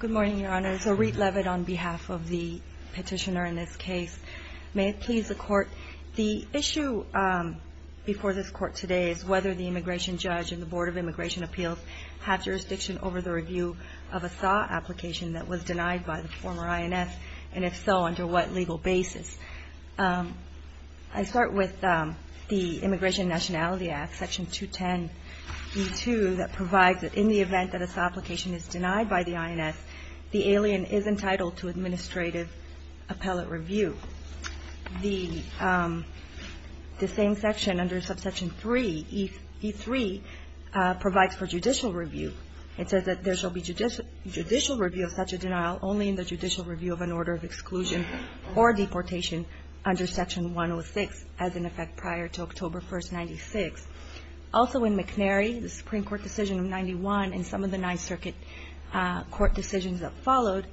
Good morning, Your Honor. So, Reet Levitt on behalf of the petitioner in this case. May it please the Court, the issue before this Court today is whether the immigration judge and the Board of Immigration Appeals have jurisdiction over the review of a SAW application that was denied by the former INF, and if so, under what legal basis. I start with the Immigration and Nationality Act, Section 210.2, that provides that in the event that a SAW application is denied by the INF, the alien is entitled to administrative appellate review. The same section under Subsection 3, E3, provides for judicial review. It says that there shall be judicial review of such a denial only in the judicial review of an order of exclusion or deportation under Section 106, as in effect prior to October 1, 1996. Also in McNary, the Supreme Court decision of 1991 and some of the Ninth Circuit court decisions that followed,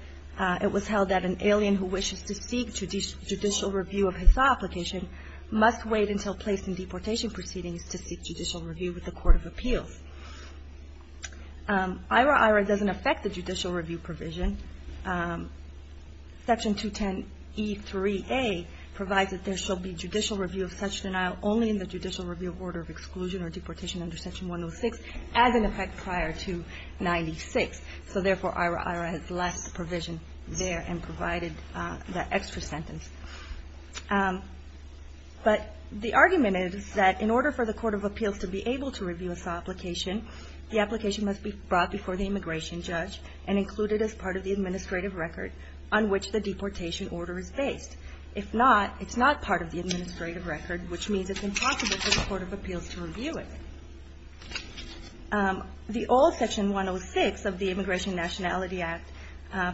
it was held that an alien who wishes to seek judicial review of his SAW application must wait until placed in deportation proceedings to seek judicial review with the Court of Appeals. IHRA doesn't affect the judicial review provision. Section 210, E3A provides that there shall be judicial review of such denial only in the judicial review of order of exclusion or deportation under Section 106, as in effect prior to 1996. So therefore, IHRA has left the provision there and provided that extra sentence. But the argument is that in order for the Court of Appeals to be able to review a SAW application, the application must be brought before the immigration judge and included as part of the administrative record on which the deportation order is based. If not, it's not part of the administrative record, which means it's impossible for the Court of Appeals to review it. The old Section 106 of the Immigration Nationality Act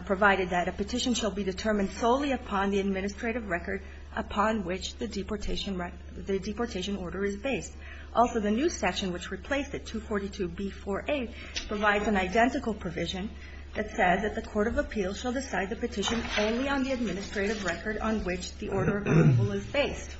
provided that a petition shall be determined solely upon the administrative record upon which the deportation order is based. Also, the new section, which replaced it, 242B4A, provides an identical provision that says that the Court of Appeals shall decide the petition only on the administrative record on which the order of approval is based.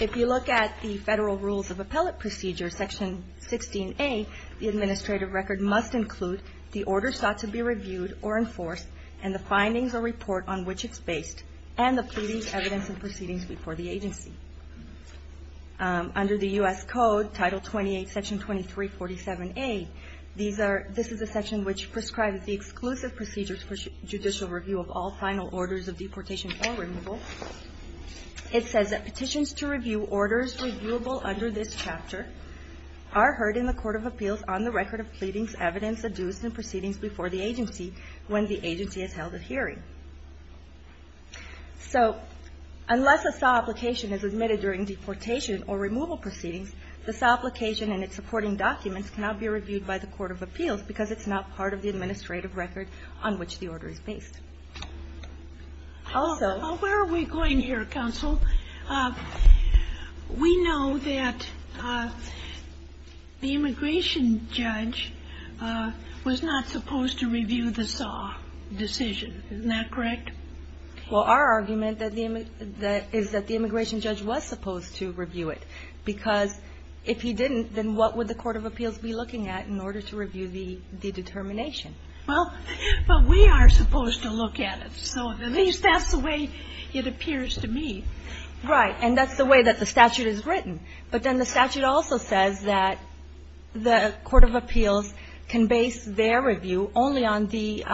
If you look at the Federal Rules of Appellate Procedure, Section 16A, the administrative record must include the order sought to be reviewed or enforced and the findings or report on which it's based, and the pleadings, evidence, and proceedings before the agency. Under the U.S. Code, Title 28, Section 2347A, this is a section which prescribes the exclusive procedures for judicial review of all final orders of deportation or removal. It says that petitions to review orders reviewable under this chapter are heard in the Court of Appeals on the record of pleadings, evidence, and proceedings before the agency when the agency has held a hearing. So unless a SAW application is admitted during deportation or removal proceedings, the SAW application and its supporting documents cannot be reviewed by the Court of Appeals because it's not part of the administrative record on which the order is based. Also -- SOTOMAYOR Where are we going here, Counsel? We know that the immigration judge was not supposed to review the SAW decision. Isn't that correct? Well, our argument is that the immigration judge was supposed to review it, because if he didn't, then what would the Court of Appeals be looking at in order to review the determination? Well, but we are supposed to look at it. So at least that's the way it appears to me. SOTOMAYOR Right. And that's the way that the statute is written. But then the statute also says that the Court of Appeals can base their review only on the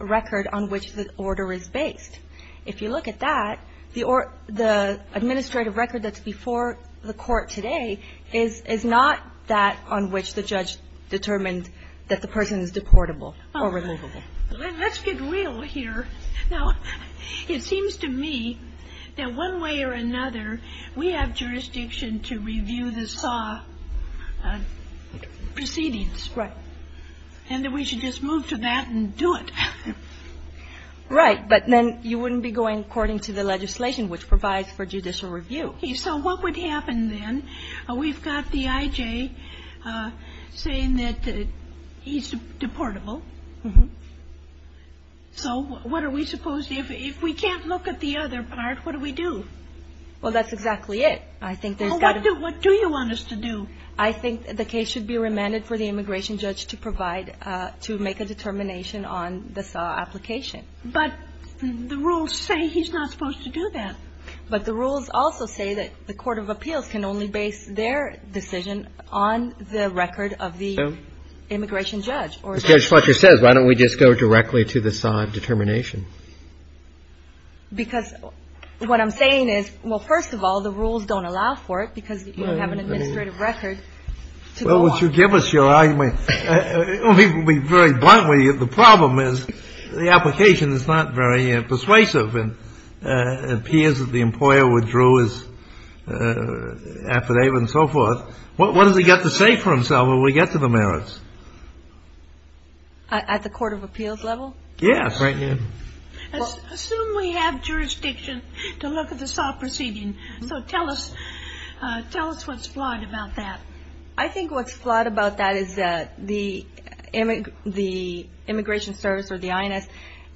record on which the order is based. If you look at that, the administrative record that's before the Court today is not that on which the judge determined that the person is deportable or removable. Now, let's get real here. Now, it seems to me that one way or another, we have jurisdiction to review the SAW proceedings. And that we should just move to that and do it. Right. But then you wouldn't be going according to the legislation which provides for judicial review. So what would happen then? We've got the I.J. saying that he's deportable. So what are we supposed to do? If we can't look at the other part, what do we do? Well, that's exactly it. I think there's got to be... Well, what do you want us to do? I think the case should be remanded for the immigration judge to provide, to make a determination on the SAW application. But the rules say he's not supposed to do that. But the rules also say that the court of appeals can only base their decision on the record of the immigration judge. Judge Fletcher says, why don't we just go directly to the SAW determination? Because what I'm saying is, well, first of all, the rules don't allow for it because you don't have an administrative record to go on. Well, would you give us your argument? I'll be very blunt with you. The problem is the application is not very persuasive and appears that the employer withdrew his affidavit and so forth. What does he get to say for himself when we get to the merits? At the court of appeals level? Yes. Assume we have jurisdiction to look at the SAW proceeding. So tell us what's flawed about that. I think what's flawed about that is that the immigration service or the INS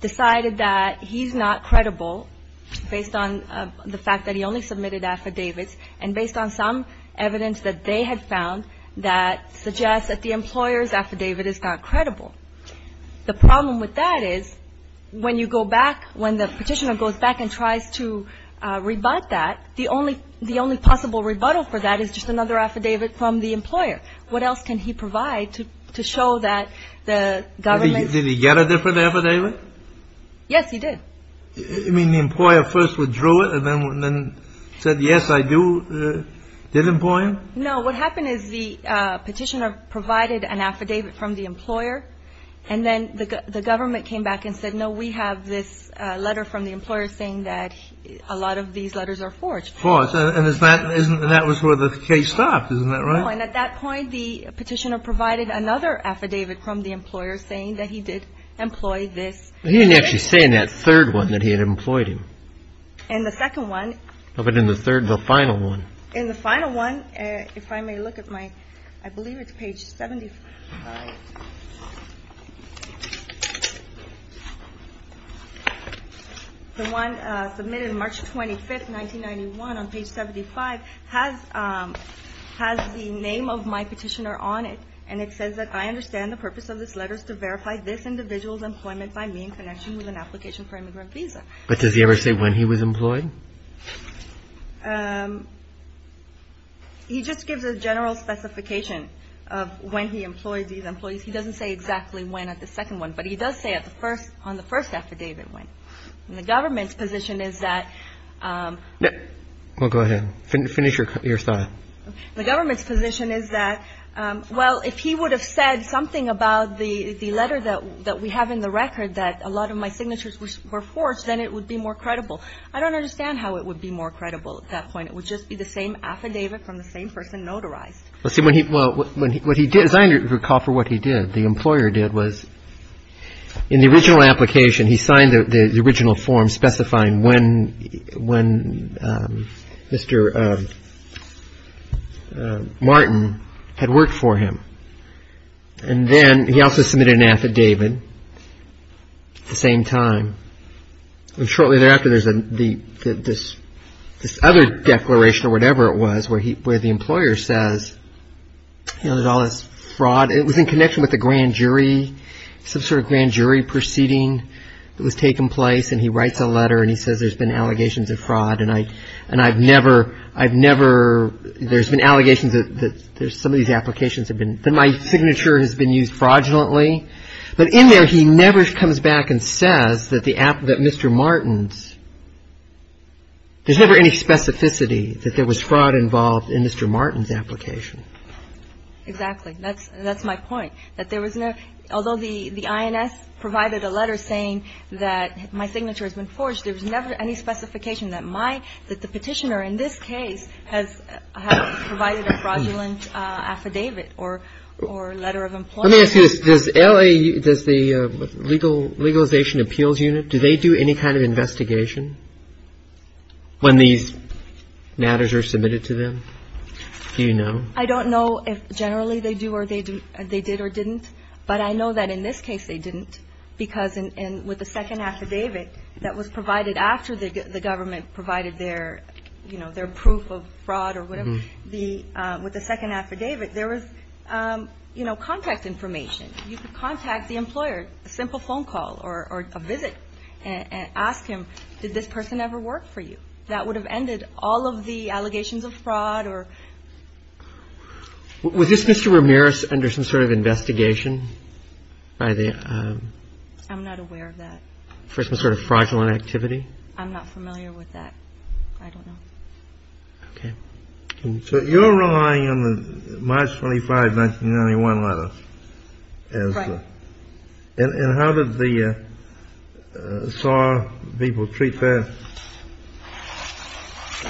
decided that he's not credible based on the fact that he only submitted affidavits and based on some evidence that they had found that suggests that the employer's affidavit is not credible. The problem with that is when you go back, when the petitioner goes back and tries to rebut that, the only possible rebuttal for that is just another affidavit from the employer. What else can he provide to show that the government? Did he get a different affidavit? Yes, he did. You mean the employer first withdrew it and then said, yes, I did employ him? No. What happened is the petitioner provided an affidavit from the employer and then the government came back and said, no, we have this letter from the employer saying that a lot of these letters are forged. And that was where the case stopped, isn't that right? No. And at that point, the petitioner provided another affidavit from the employer saying that he did employ this. He didn't actually say in that third one that he had employed him. In the second one. No, but in the third, the final one. In the final one, if I may look at my, I believe it's page 75. The one submitted March 25th, 1991 on page 75 has the name of my petitioner on it. And it says that I understand the purpose of this letter is to verify this individual's employment by me in connection with an application for immigrant visa. But does he ever say when he was employed? He just gives a general specification of when he employed these employees. He doesn't say exactly when at the second one. But he does say at the first on the first affidavit when the government's position is that. Well, go ahead. Finish your thought. The government's position is that, well, if he would have said something about the letter that we have in the record that a lot of my signatures were forged, then it would be more credible. I don't understand how it would be more credible at that point. It would just be the same affidavit from the same person notarized. Well, see, what he did, as I recall from what he did, the employer did was in the original application, he signed the original form specifying when Mr. Martin had worked for him. And then he also submitted an affidavit at the same time. And shortly thereafter, there's this other declaration or whatever it was where the employer says, you know, there's all this fraud. It was in connection with the grand jury, some sort of grand jury proceeding that was taking place. And he writes a letter and he says there's been allegations of fraud. And I and I've never I've never there's been allegations that there's some of these applications have been that my signature has been used fraudulently. But in there, he never comes back and says that the app that Mr. Martin's. There's never any specificity that there was fraud involved in Mr. Martin's application. Exactly. That's that's my point, that there was no although the INS provided a letter saying that my signature has been forged, there was never any specification that my that the petitioner in this case has provided a fraudulent affidavit or or letter of employment. Let me ask you this. Does LA does the legal legalization appeals unit, do they do any kind of investigation when these matters are submitted to them? Do you know? I don't know if generally they do or they do. They did or didn't. But I know that in this case they didn't, because with the second affidavit that was provided after the government provided their, you know, their proof of fraud or whatever the with the second affidavit, there was, you know, contact information. You could contact the employer, a simple phone call or a visit and ask him, did this person ever work for you? That would have ended all of the allegations of fraud or. Was this Mr. Ramirez under some sort of investigation by the. I'm not aware of that for some sort of fraudulent activity. I'm not familiar with that. I don't know. OK, so you're relying on the March 25, 1991 letter. And how did the SAR people treat that?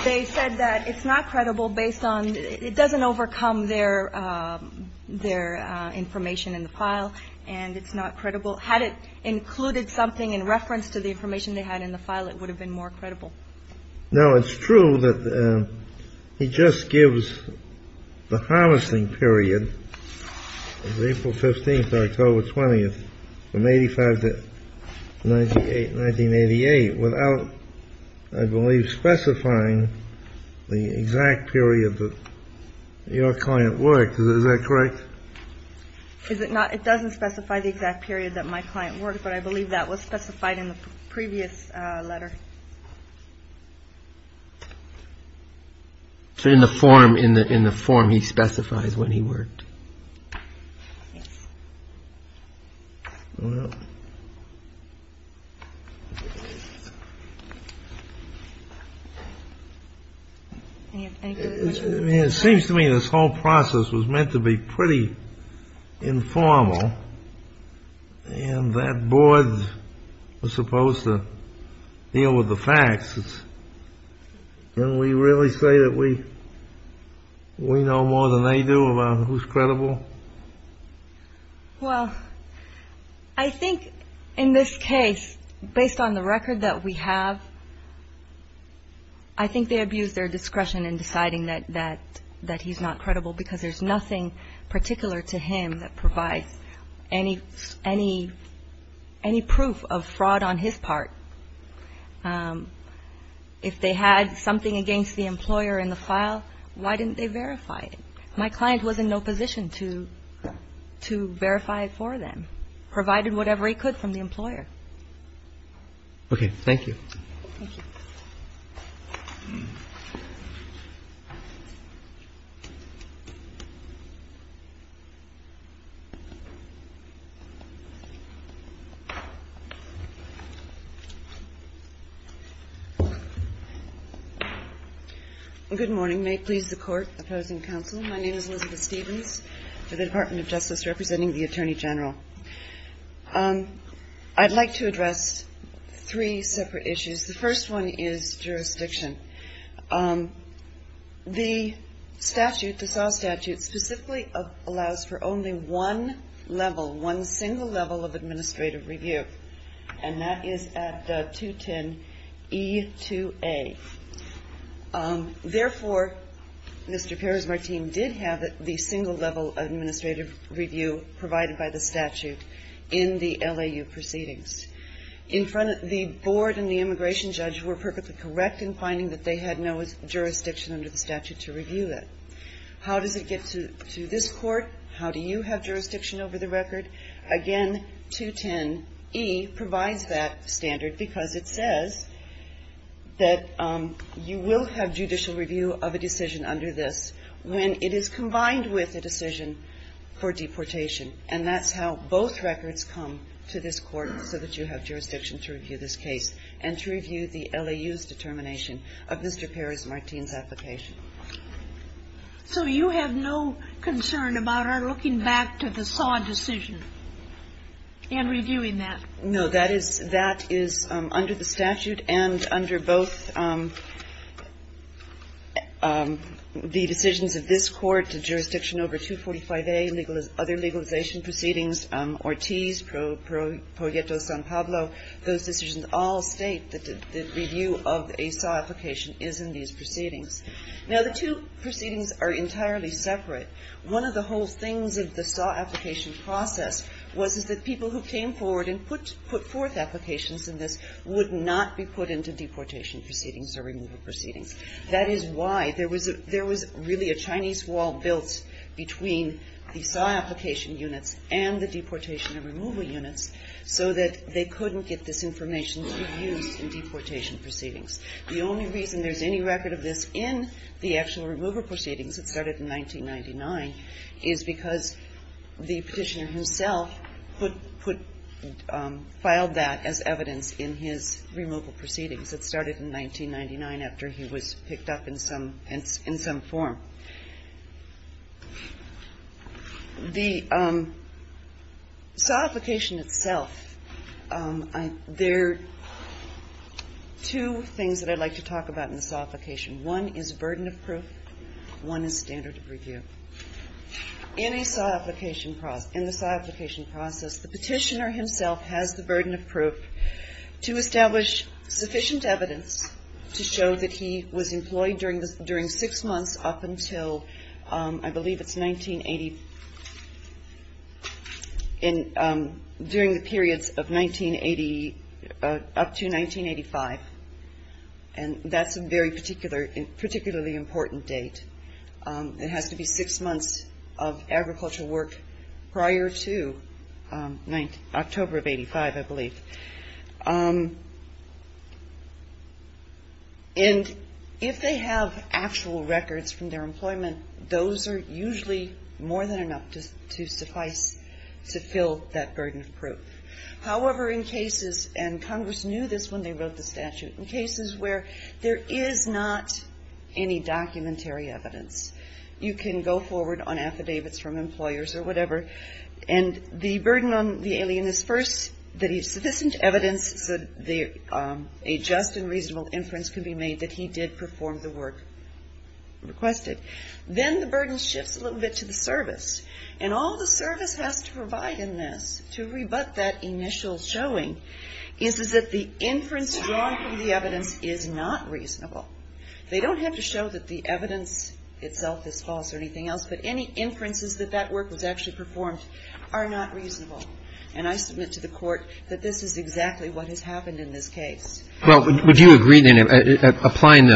They said that it's not credible based on it doesn't overcome their their information in the file and it's not credible. Had it included something in reference to the information they had in the file, it would have been more credible. Now, it's true that he just gives the harvesting period of April 15th, October 20th, from 85 to 98, 1988, without, I believe, specifying the exact period that your client worked. Is that correct? Is it not? It doesn't specify the exact period that my client worked, but I believe that was specified in the previous letter. In the form in the in the form he specifies when he worked. It seems to me this whole process was meant to be pretty informal. And that board was supposed to deal with the facts. Can we really say that we we know more than they do about who's credible? Well, I think in this case, based on the record that we have. I think they abused their discretion in deciding that that that he's not credible because there's nothing particular to him that provides any any any proof of fraud on his part. If they had something against the employer in the file, why didn't they verify it? My client was in no position to to verify it for them, provided whatever he could from the employer. OK, thank you. Good morning. May it please the Court. Opposing counsel. My name is Elizabeth Stevens for the Department of Justice representing the Attorney General. I'd like to address three separate issues. The first one is jurisdiction. The statute, the SAW statute, specifically allows for only one level, one single level of administrative review. And that is at 210 E2A. Therefore, Mr. Perez-Martin did have the single level administrative review provided by the statute in the LAU proceedings. In front of the board and the immigration judge were perfectly correct in finding that they had no jurisdiction under the statute to review it. How does it get to this court? How do you have jurisdiction over the record? Again, 210 E provides that standard because it says that you will have judicial review of a decision under this when it is combined with a decision for deportation. And that's how both records come to this court, so that you have jurisdiction to review this case and to review the LAU's determination of Mr. Perez-Martin's application. So you have no concern about our looking back to the SAW decision and reviewing that? No. That is under the statute and under both the decisions of this court, the jurisdiction over 245A, other legalization proceedings, Ortiz, Proieto-San Pablo, those decisions all state that the review of a SAW application is in these proceedings. Now, the two proceedings are entirely separate. One of the whole things of the SAW application process was that people who came forward and put forth applications in this would not be put into deportation proceedings or removal proceedings. That is why there was really a Chinese wall built between the SAW application units and the deportation and removal units, so that they couldn't get this information to be used in deportation proceedings. The only reason there's any record of this in the actual removal proceedings that started in 1999 is because the Petitioner himself put – filed that as evidence in his removal proceedings that started in 1999 after he was picked up in some – in some form. The SAW application itself, there are two things. There are two things that I'd like to talk about in the SAW application. One is burden of proof. One is standard of review. In a SAW application process – in the SAW application process, the Petitioner himself has the burden of proof to establish sufficient evidence to show that he was employed during the – during six months up until I believe it's 1980 – in – during the periods of 1980 up to 1985. And that's a very particular – particularly important date. It has to be six months of agricultural work prior to October of 85, I believe. And if they have actual records from their employment, those are usually more than enough to suffice to fill that burden of proof. However, in cases – and Congress knew this when they wrote the statute – in cases where there is not any documentary evidence, you can go forward on affidavits from employers or whatever, and the burden on the alien is first that he has sufficient evidence so that a just and reasonable inference can be made that he did perform the work requested. Then the burden shifts a little bit to the service. And all the service has to provide in this to rebut that initial showing is that the inference drawn from the evidence is not reasonable. They don't have to show that the evidence itself is false or anything else, but any inferences that that work was actually performed are not reasonable. And I submit to the Court that this is exactly what has happened in this case. Well, would you agree, then, applying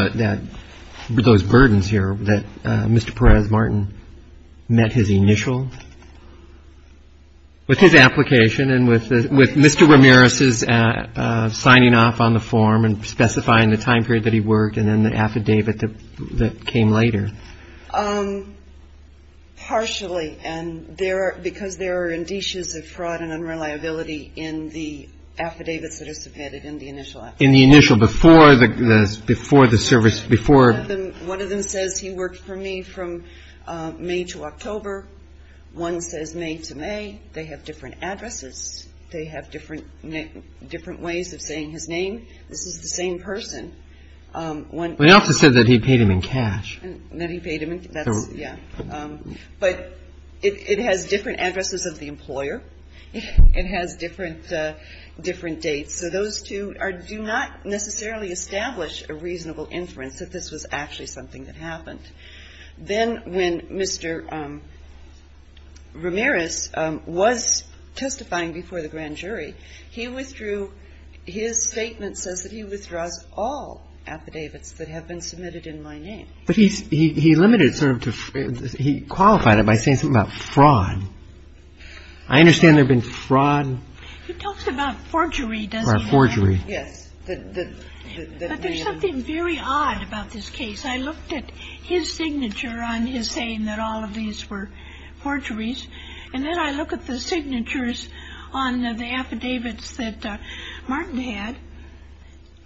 those burdens here that Mr. Perez-Martin met his initial with his application and with Mr. Ramirez's signing off on the form and specifying the time period that he worked and then the affidavit that came later? Partially, because there are indices of fraud and unreliability in the affidavits that are submitted in the initial application. In the initial, before the service, before? One of them says he worked for me from May to October. One says May to May. They have different addresses. They have different ways of saying his name. This is the same person. One also said that he paid him in cash. But it has different addresses of the employer. It has different dates. So those two do not necessarily establish a reasonable inference that this was actually something that happened. Then when Mr. Ramirez was testifying before the grand jury, he withdrew his statement says that he withdraws all affidavits that have been submitted in my name. But he limited it sort of to he qualified it by saying something about fraud. I understand there have been fraud. He talks about forgery, doesn't he? Or forgery. Yes. But there's something very odd about this case. I looked at his signature on his saying that all of these were forgeries. And then I look at the signatures on the affidavits that Martin had.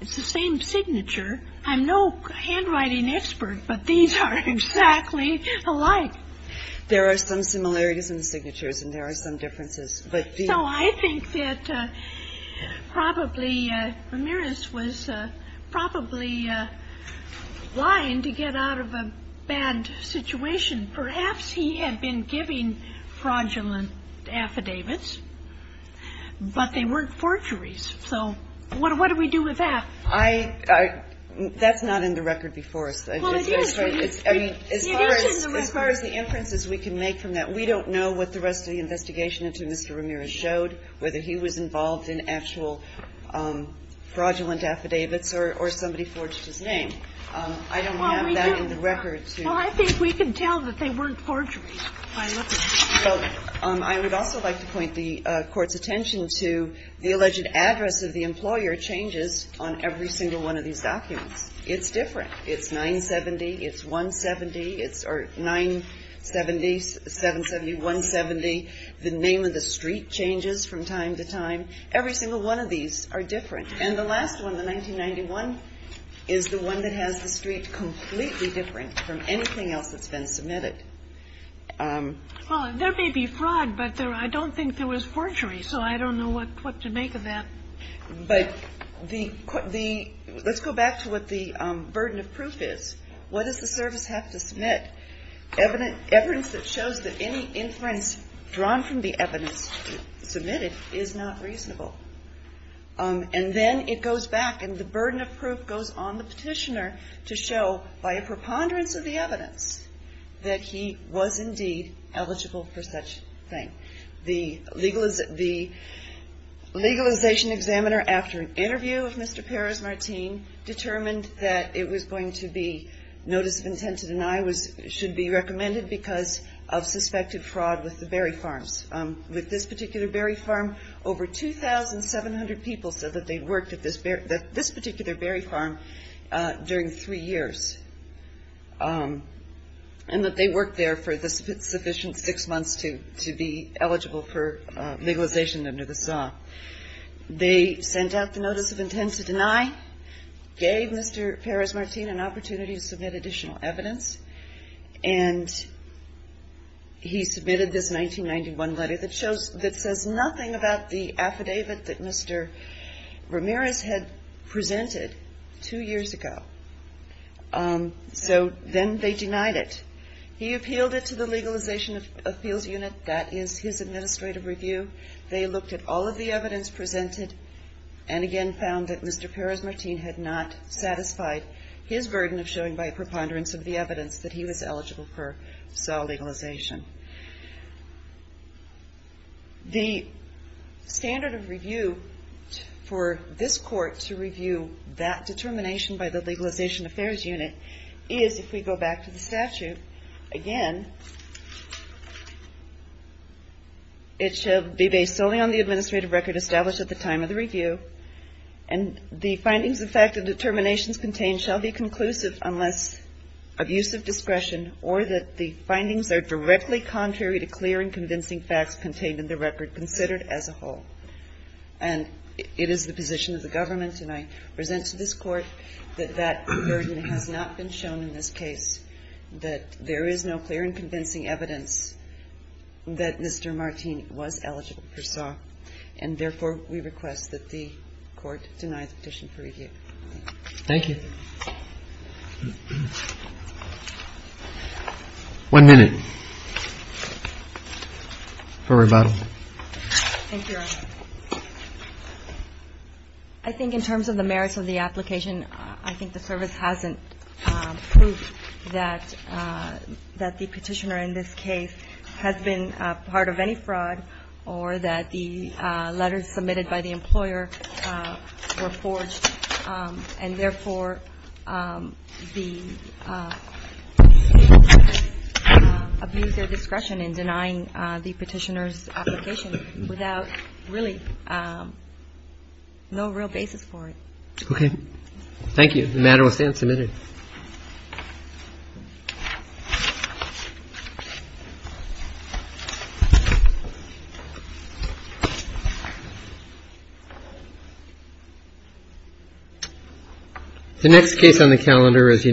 It's the same signature. I'm no handwriting expert, but these are exactly alike. There are some similarities in the signatures and there are some differences. So I think that probably Ramirez was probably lying to get out of a bad situation. Perhaps he had been giving fraudulent affidavits, but they weren't forgeries. So what do we do with that? That's not in the record before us. Well, it is. It is in the record. As far as the inferences we can make from that, we don't know what the rest of the investigation into Mr. Ramirez showed, whether he was involved in actual fraudulent affidavits or somebody forged his name. I don't have that in the record. Well, I think we can tell that they weren't forgeries. I would also like to point the Court's attention to the alleged address of the employer changes on every single one of these documents. It's different. It's 970. It's 170. It's 970, 770, 170. The name of the street changes from time to time. Every single one of these are different. And the last one, the 1991, is the one that has the street completely different from anything else that's been submitted. Well, there may be fraud, but I don't think there was forgery. So I don't know what to make of that. But let's go back to what the burden of proof is. What does the service have to submit? Evidence that shows that any inference drawn from the evidence submitted is not reasonable. And then it goes back, and the burden of proof goes on the petitioner to show, by a preponderance of the evidence, that he was indeed eligible for such a thing. The legalization examiner, after an interview with Mr. Perez-Martin, determined that it was going to be notice of intent to deny should be recommended because of suspected fraud with the berry farms. With this particular berry farm, over 2,700 people said that they'd worked at this particular berry farm during three years and that they worked there for the sufficient six months to be eligible for legalization under this law. They sent out the notice of intent to deny, gave Mr. Perez-Martin an opportunity to submit additional evidence, and he submitted this 1991 letter that says nothing about the affidavit that Mr. Ramirez had presented two years ago. So then they denied it. He appealed it to the Legalization Appeals Unit. That is his administrative review. They looked at all of the evidence presented and again found that Mr. Perez-Martin had not satisfied his burden of showing by a preponderance of the evidence that he was eligible for SAW legalization. The standard of review for this court to review that determination by the Legalization Affairs Unit is, if we go back to the statute, again, it shall be based solely on the administrative record established at the time of the review and the findings of fact and determinations contained shall be conclusive unless of use of discretion or that the findings are directly related to the statute. It shall be solely contrary to clear and convincing facts contained in the record considered as a whole. And it is the position of the government, and I present to this Court, that that burden has not been shown in this case, that there is no clear and convincing evidence that Mr. Martin was eligible for SAW, and therefore we request that the Court deny the petition for review. Thank you. One minute for rebuttal. Thank you, Your Honor. I think in terms of the merits of the application, I think the service hasn't proved that the petitioner in this case has been part of any fraud or that the letters submitted by the employer were forged and therefore the petitioner abused their discretion in denying the petitioner's application without really no real basis for it. Okay. Thank you. The matter will stand submitted. The next case on the calendar is United States.